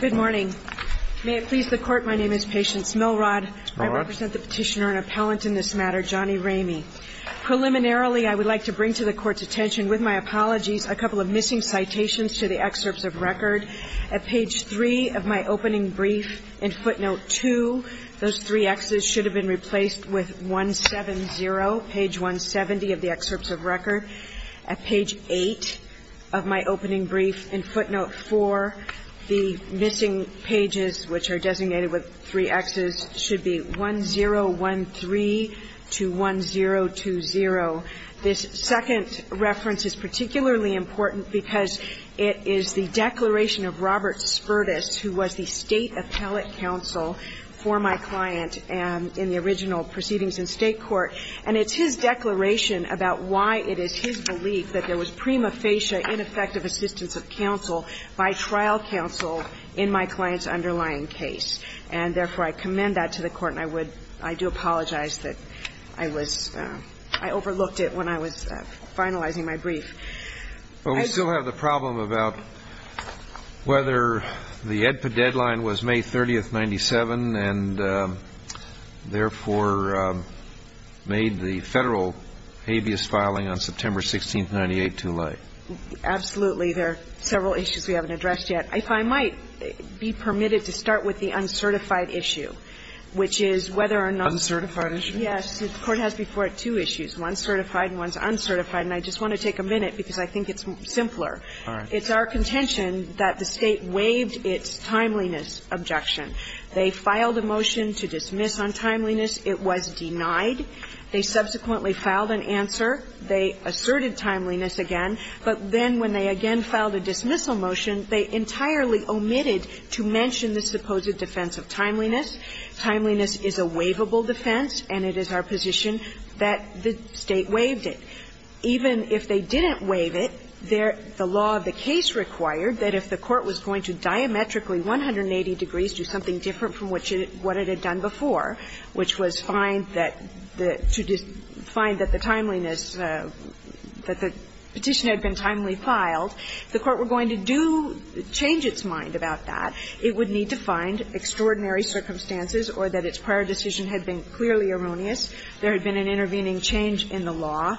Good morning. May it please the Court, my name is Patience Milrod. I represent the petitioner and appellant in this matter, Johnny Ramey. Preliminarily, I would like to bring to the Court's attention, with my apologies, a couple of missing citations to the excerpts of record. At page 3 of my opening brief, in footnote 2, those 3 X's should have been replaced with 170, page 170 of the excerpts of record. At page 8 of my opening brief, in footnote 4, the missing pages, which are designated with 3 X's, should be 1013 to 1020. This second reference is particularly important because it is the declaration of Robert Spertus, who was the State Appellate Counsel for my client in the original proceedings in State court. And it's his declaration about why it is his belief that there was prima facie ineffective assistance of counsel by trial counsel in my client's underlying case. And therefore, I commend that to the Court, and I would – I do apologize that I was – I overlooked it when I was finalizing my brief. But we still have the problem about whether the AEDPA deadline was May 30th, 1997, and therefore made the Federal habeas filing on September 16th, 1998, too late. Absolutely. There are several issues we haven't addressed yet. If I might be permitted to start with the uncertified issue, which is whether or not – Uncertified issue. Yes. The Court has before it two issues, one certified and one is uncertified. And I just want to take a minute because I think it's simpler. All right. It's our contention that the State waived its timeliness objection. They filed a motion to dismiss on timeliness. It was denied. They subsequently filed an answer. They asserted timeliness again. But then when they again filed a dismissal motion, they entirely omitted to mention the supposed defense of timeliness. Timeliness is a waivable defense, and it is our position that the State waived it. Even if they didn't waive it, the law of the case required that if the Court was going to diametrically, 180 degrees, do something different from what it had done before, which was find that the – to find that the timeliness – that the petition had been timely filed, the Court were going to do – change its mind about that. It would need to find extraordinary circumstances or that its prior decision had been clearly erroneous. There had been an intervening change in the law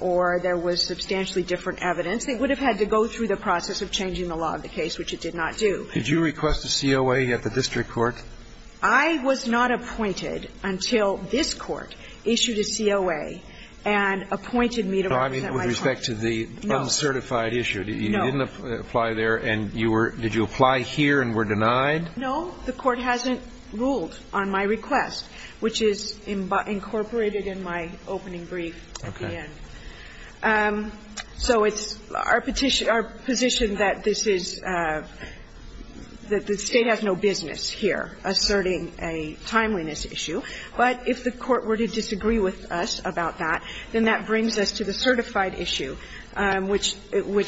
or there was substantially different evidence. It would have had to go through the process of changing the law of the case, which it did not do. Did you request a COA at the district court? I was not appointed until this Court issued a COA and appointed me to represent my client. No, I mean with respect to the uncertified issue. No. You didn't apply there and you were – did you apply here and were denied? No. The Court hasn't ruled on my request, which is incorporated in my opening brief at the end. Okay. So it's our petition – our position that this is – that the State has no business here asserting a timeliness issue. But if the Court were to disagree with us about that, then that brings us to the certified issue, which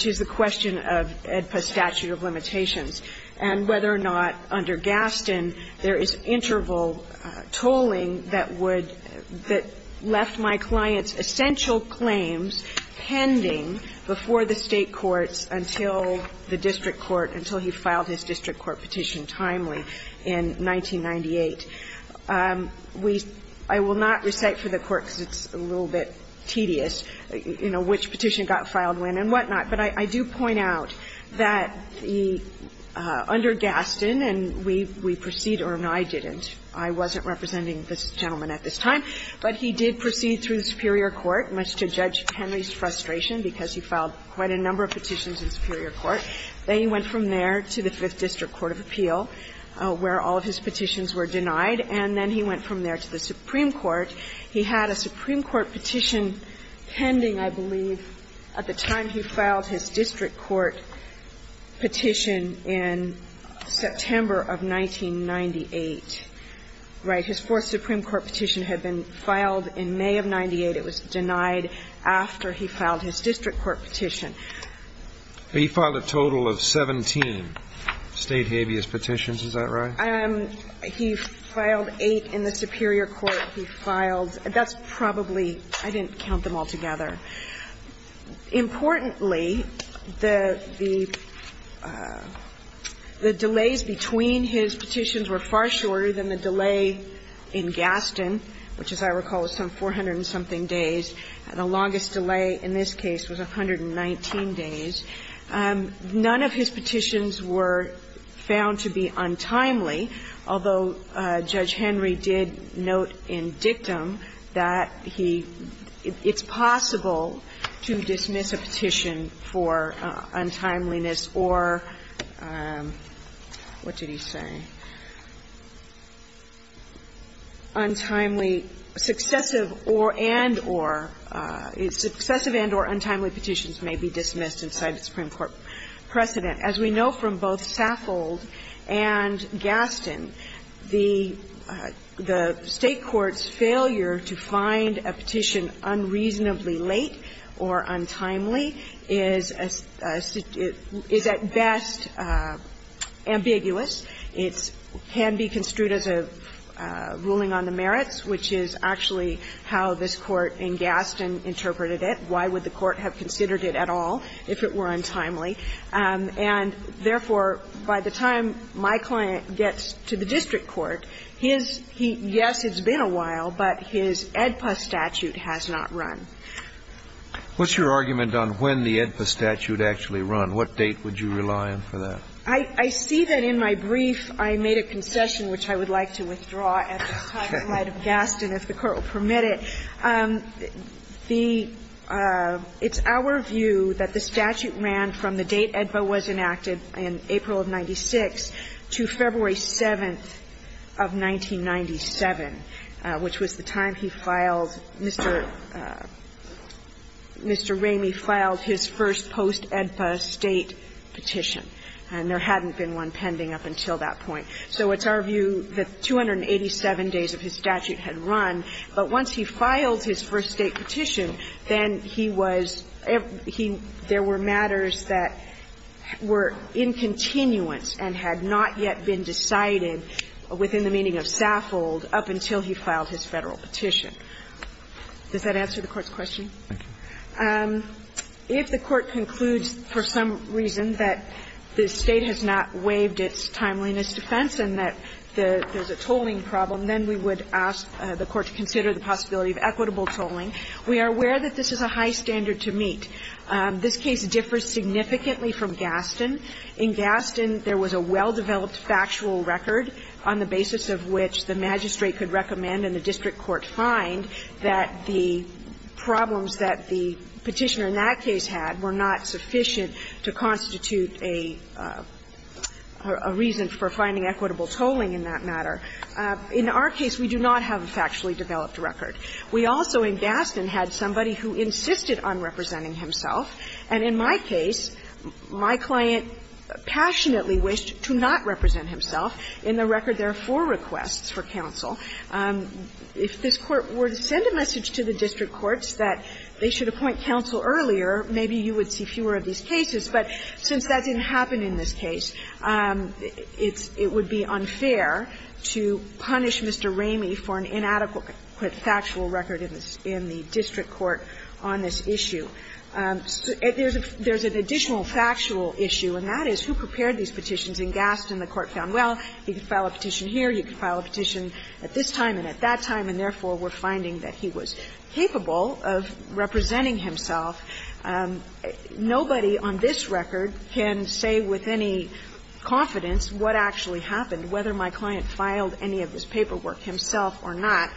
is the question of AEDPA statute of limitations and whether or not under Gaston there is interval tolling that would – that left my client's essential claims pending before the State courts until the district court – until he filed his district court petition timely in 1998. We – I will not recite for the Court because it's a little bit tedious, you know, which petition got filed when and whatnot, but I do point out that the – under Gaston, and we – we proceed – or no, I didn't. I wasn't representing this gentleman at this time. But he did proceed through the superior court, much to Judge Henry's frustration because he filed quite a number of petitions in superior court. Then he went from there to the Fifth District Court of Appeal, where all of his petitions were denied, and then he went from there to the Supreme Court. He had a Supreme Court petition pending, I believe, at the time he filed his district court petition in September of 1998. Right? His fourth Supreme Court petition had been filed in May of 1998. It was denied after he filed his district court petition. He filed a total of 17 State habeas petitions. Is that right? He filed eight in the superior court. He filed – that's probably – I didn't count them all together. Importantly, the – the delays between his petitions were far shorter than the delay in Gaston, which, as I recall, was some 400-and-something days. The longest delay in this case was 119 days. None of his petitions were found to be untimely, although Judge Henry did note in dictum that he – it's possible to dismiss a petition for untimeliness or – what did he say? Untimely – successive or – and or – successive and or untimely petitions may be dismissed inside the Supreme Court precedent. As we know from both Saffold and Gaston, the State court's failure to find a petition late or untimely is at best ambiguous. It can be construed as a ruling on the merits, which is actually how this Court in Gaston interpreted it. Why would the Court have considered it at all if it were untimely? And therefore, by the time my client gets to the district court, his – yes, it's What's your argument on when the AEDPA statute actually run? What date would you rely on for that? I see that in my brief I made a concession, which I would like to withdraw at this time, in light of Gaston, if the Court will permit it. The – it's our view that the statute ran from the date AEDPA was enacted in April of 1996 to February 7th of 1997, which was the time he filed – Mr. Ramey filed his first post-AEDPA State petition. And there hadn't been one pending up until that point. So it's our view that 287 days of his statute had run. But once he filed his first State petition, then he was – he – there were matters that were in continuance and had not yet been decided within the meaning of Saffold up until he filed his Federal petition. Does that answer the Court's question? If the Court concludes for some reason that the State has not waived its timeliness defense and that there's a tolling problem, then we would ask the Court to consider the possibility of equitable tolling. We are aware that this is a high standard to meet. This case differs significantly from Gaston. In Gaston, there was a well-developed factual record on the basis of which the magistrate could recommend and the district court find that the problems that the Petitioner in that case had were not sufficient to constitute a reason for finding equitable tolling in that matter. In our case, we do not have a factually developed record. We also, in Gaston, had somebody who insisted on representing himself, and in my case, my client passionately wished to not represent himself. In the record, there are four requests for counsel. If this Court were to send a message to the district courts that they should appoint counsel earlier, maybe you would see fewer of these cases. But since that didn't happen in this case, it's – it would be unfair to punish Mr. Ramey for an inadequate factual record in the district court on this issue. There's an additional factual issue, and that is, who prepared these petitions in Gaston? The Court found, well, you could file a petition here, you could file a petition at this time and at that time, and therefore, we're finding that he was capable of representing himself. Nobody on this record can say with any confidence what actually happened, whether my client filed any of this paperwork himself or not,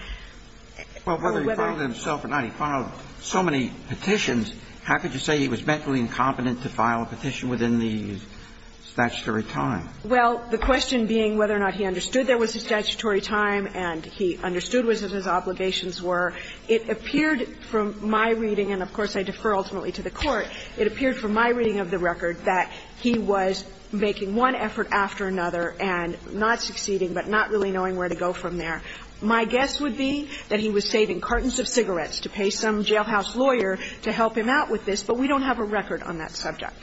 or whether he filed it himself or not. He filed so many petitions, how could you say he was mentally incompetent to file a petition within the statutory time? Well, the question being whether or not he understood there was a statutory time and he understood what his obligations were, it appeared from my reading and, of course, I defer ultimately to the Court, it appeared from my reading of the My guess would be that he was saving cartons of cigarettes to pay some jailhouse lawyer to help him out with this, but we don't have a record on that subject.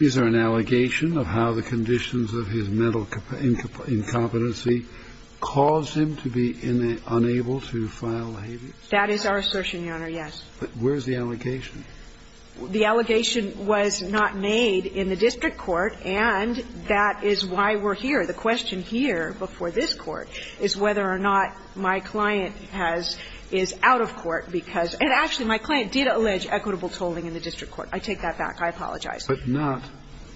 Is there an allegation of how the conditions of his mental incompetency caused him to be unable to file the habeas? That is our assertion, Your Honor, yes. But where's the allegation? The allegation was not made in the district court, and that is why we're here. The question here before this Court is whether or not my client has – is out of court because – and actually, my client did allege equitable tolling in the district court. I take that back. I apologize. But not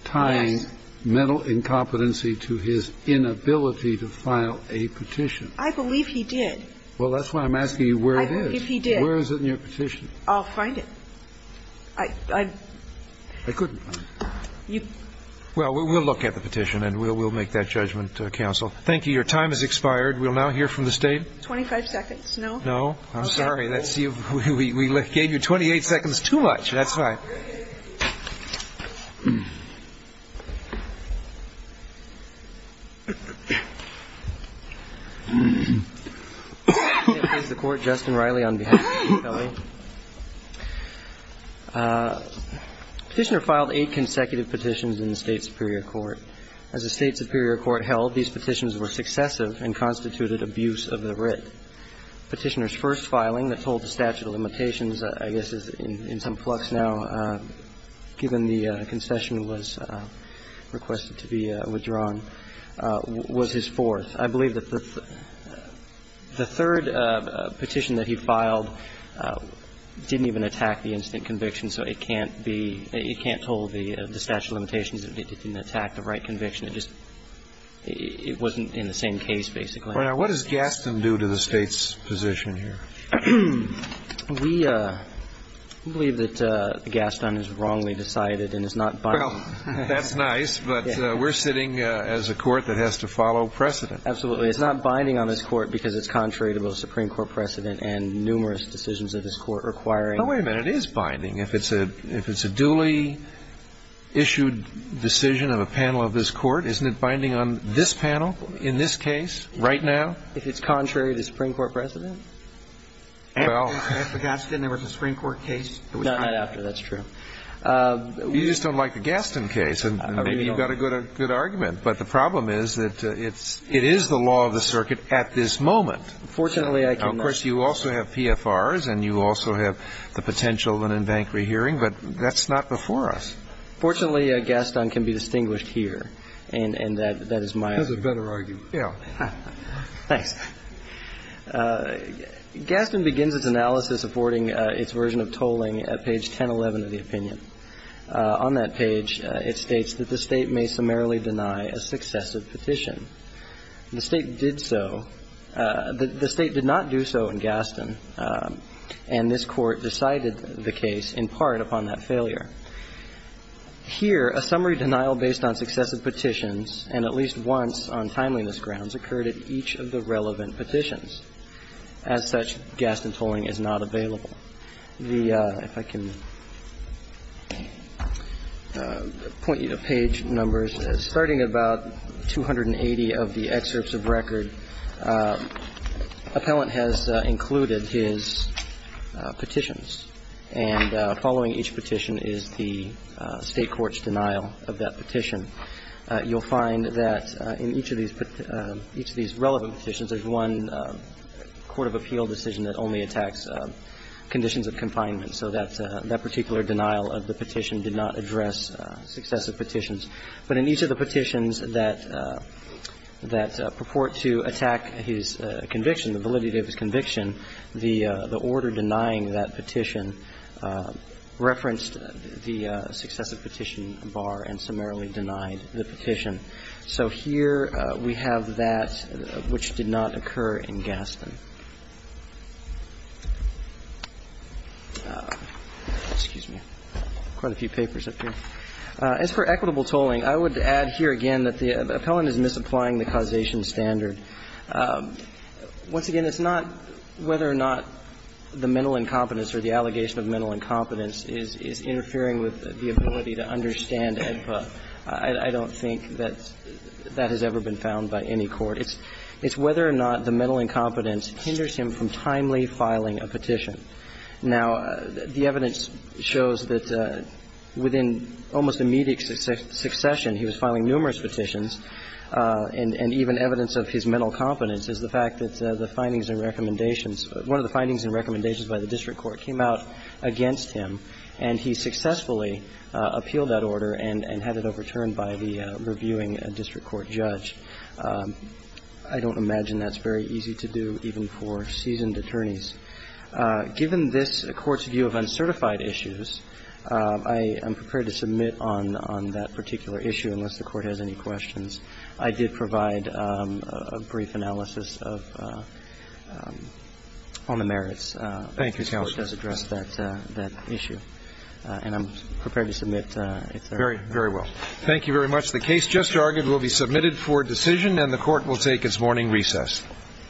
tying mental incompetency to his inability to file a petition? I believe he did. Well, that's why I'm asking you where it is. If he did. Where is it in your petition? I'll find it. I couldn't find it. Well, we'll look at the petition, and we'll make that judgment, Counsel. Thank you. Your time has expired. We'll now hear from the State. Twenty-five seconds. No? No. I'm sorry. We gave you 28 seconds too much. That's fine. Here's the Court. Justin Riley on behalf of the State. Thank you, Mr. Riley. Petitioner filed eight consecutive petitions in the State Superior Court. As the State Superior Court held, these petitions were successive and constituted abuse of the writ. Petitioner's first filing that told the statute of limitations, I guess is in some flux now, given the concession was requested to be withdrawn, was his fourth. I believe that the third petition that he filed didn't even attack the instant conviction, so it can't be – it can't hold the statute of limitations. It didn't attack the right conviction. It just – it wasn't in the same case, basically. Well, now, what does Gaston do to the State's position here? We believe that Gaston is wrongly decided and is not – Well, that's nice, but we're sitting as a court that has to follow precedent. Absolutely. It's not binding on this Court because it's contrary to both Supreme Court precedent and numerous decisions of this Court requiring – No, wait a minute. It is binding. If it's a – if it's a duly issued decision of a panel of this Court, isn't it binding on this panel, in this case, right now? If it's contrary to Supreme Court precedent? Well – After Gaston, there was a Supreme Court case – Not after. That's true. You just don't like the Gaston case, and maybe you've got a good argument. But the problem is that it's – it is the law of the circuit at this moment. Fortunately, I can – Of course, you also have PFRs, and you also have the potential of an in-bank rehearing, but that's not before us. Fortunately, Gaston can be distinguished here, and that is my argument. That's a better argument. Yeah. Thanks. Gaston begins its analysis affording its version of tolling at page 1011 of the opinion. On that page, it states that the State may summarily deny a successive petition. The State did so – the State did not do so in Gaston, and this Court decided the case in part upon that failure. Here, a summary denial based on successive petitions, and at least once on timeliness grounds, occurred at each of the relevant petitions. As such, Gaston tolling is not available. The – if I can point you to page numbers. Starting at about 280 of the excerpts of record, appellant has included his petitions. And following each petition is the State court's denial of that petition. You'll find that in each of these – each of these relevant petitions, there's one court of appeal decision that only attacks conditions of confinement. So that particular denial of the petition did not address successive petitions. But in each of the petitions that purport to attack his conviction, the validity of his conviction, the order denying that petition referenced the successive petition bar and summarily denied the petition. So here we have that which did not occur in Gaston. Excuse me. Quite a few papers up here. As for equitable tolling, I would add here again that the appellant is misapplying the causation standard. Once again, it's not whether or not the mental incompetence or the allegation of mental incompetence is interfering with the ability to understand AEDPA. I don't think that that has ever been found by any court. It's whether or not the mental incompetence hinders him from timely filing a petition. Now, the evidence shows that within almost immediate succession, he was filing numerous petitions, and even evidence of his mental competence is the fact that the findings and recommendations – one of the findings and recommendations by the district court came out against him, and he successfully appealed that order and had it overturned by the reviewing district court judge. I don't imagine that's very easy to do, even for seasoned attorneys. Given this Court's view of uncertified issues, I am prepared to submit on that particular issue, unless the Court has any questions. I did provide a brief analysis of – on the merits. Thank you, counsel. The Court has addressed that issue, and I'm prepared to submit, if there are any questions. Very well. Thank you very much. The case just argued will be submitted for decision, and the Court will take its morning recess. Quiet. Quiet. Quiet. Quiet. Quiet. Quiet. Quiet.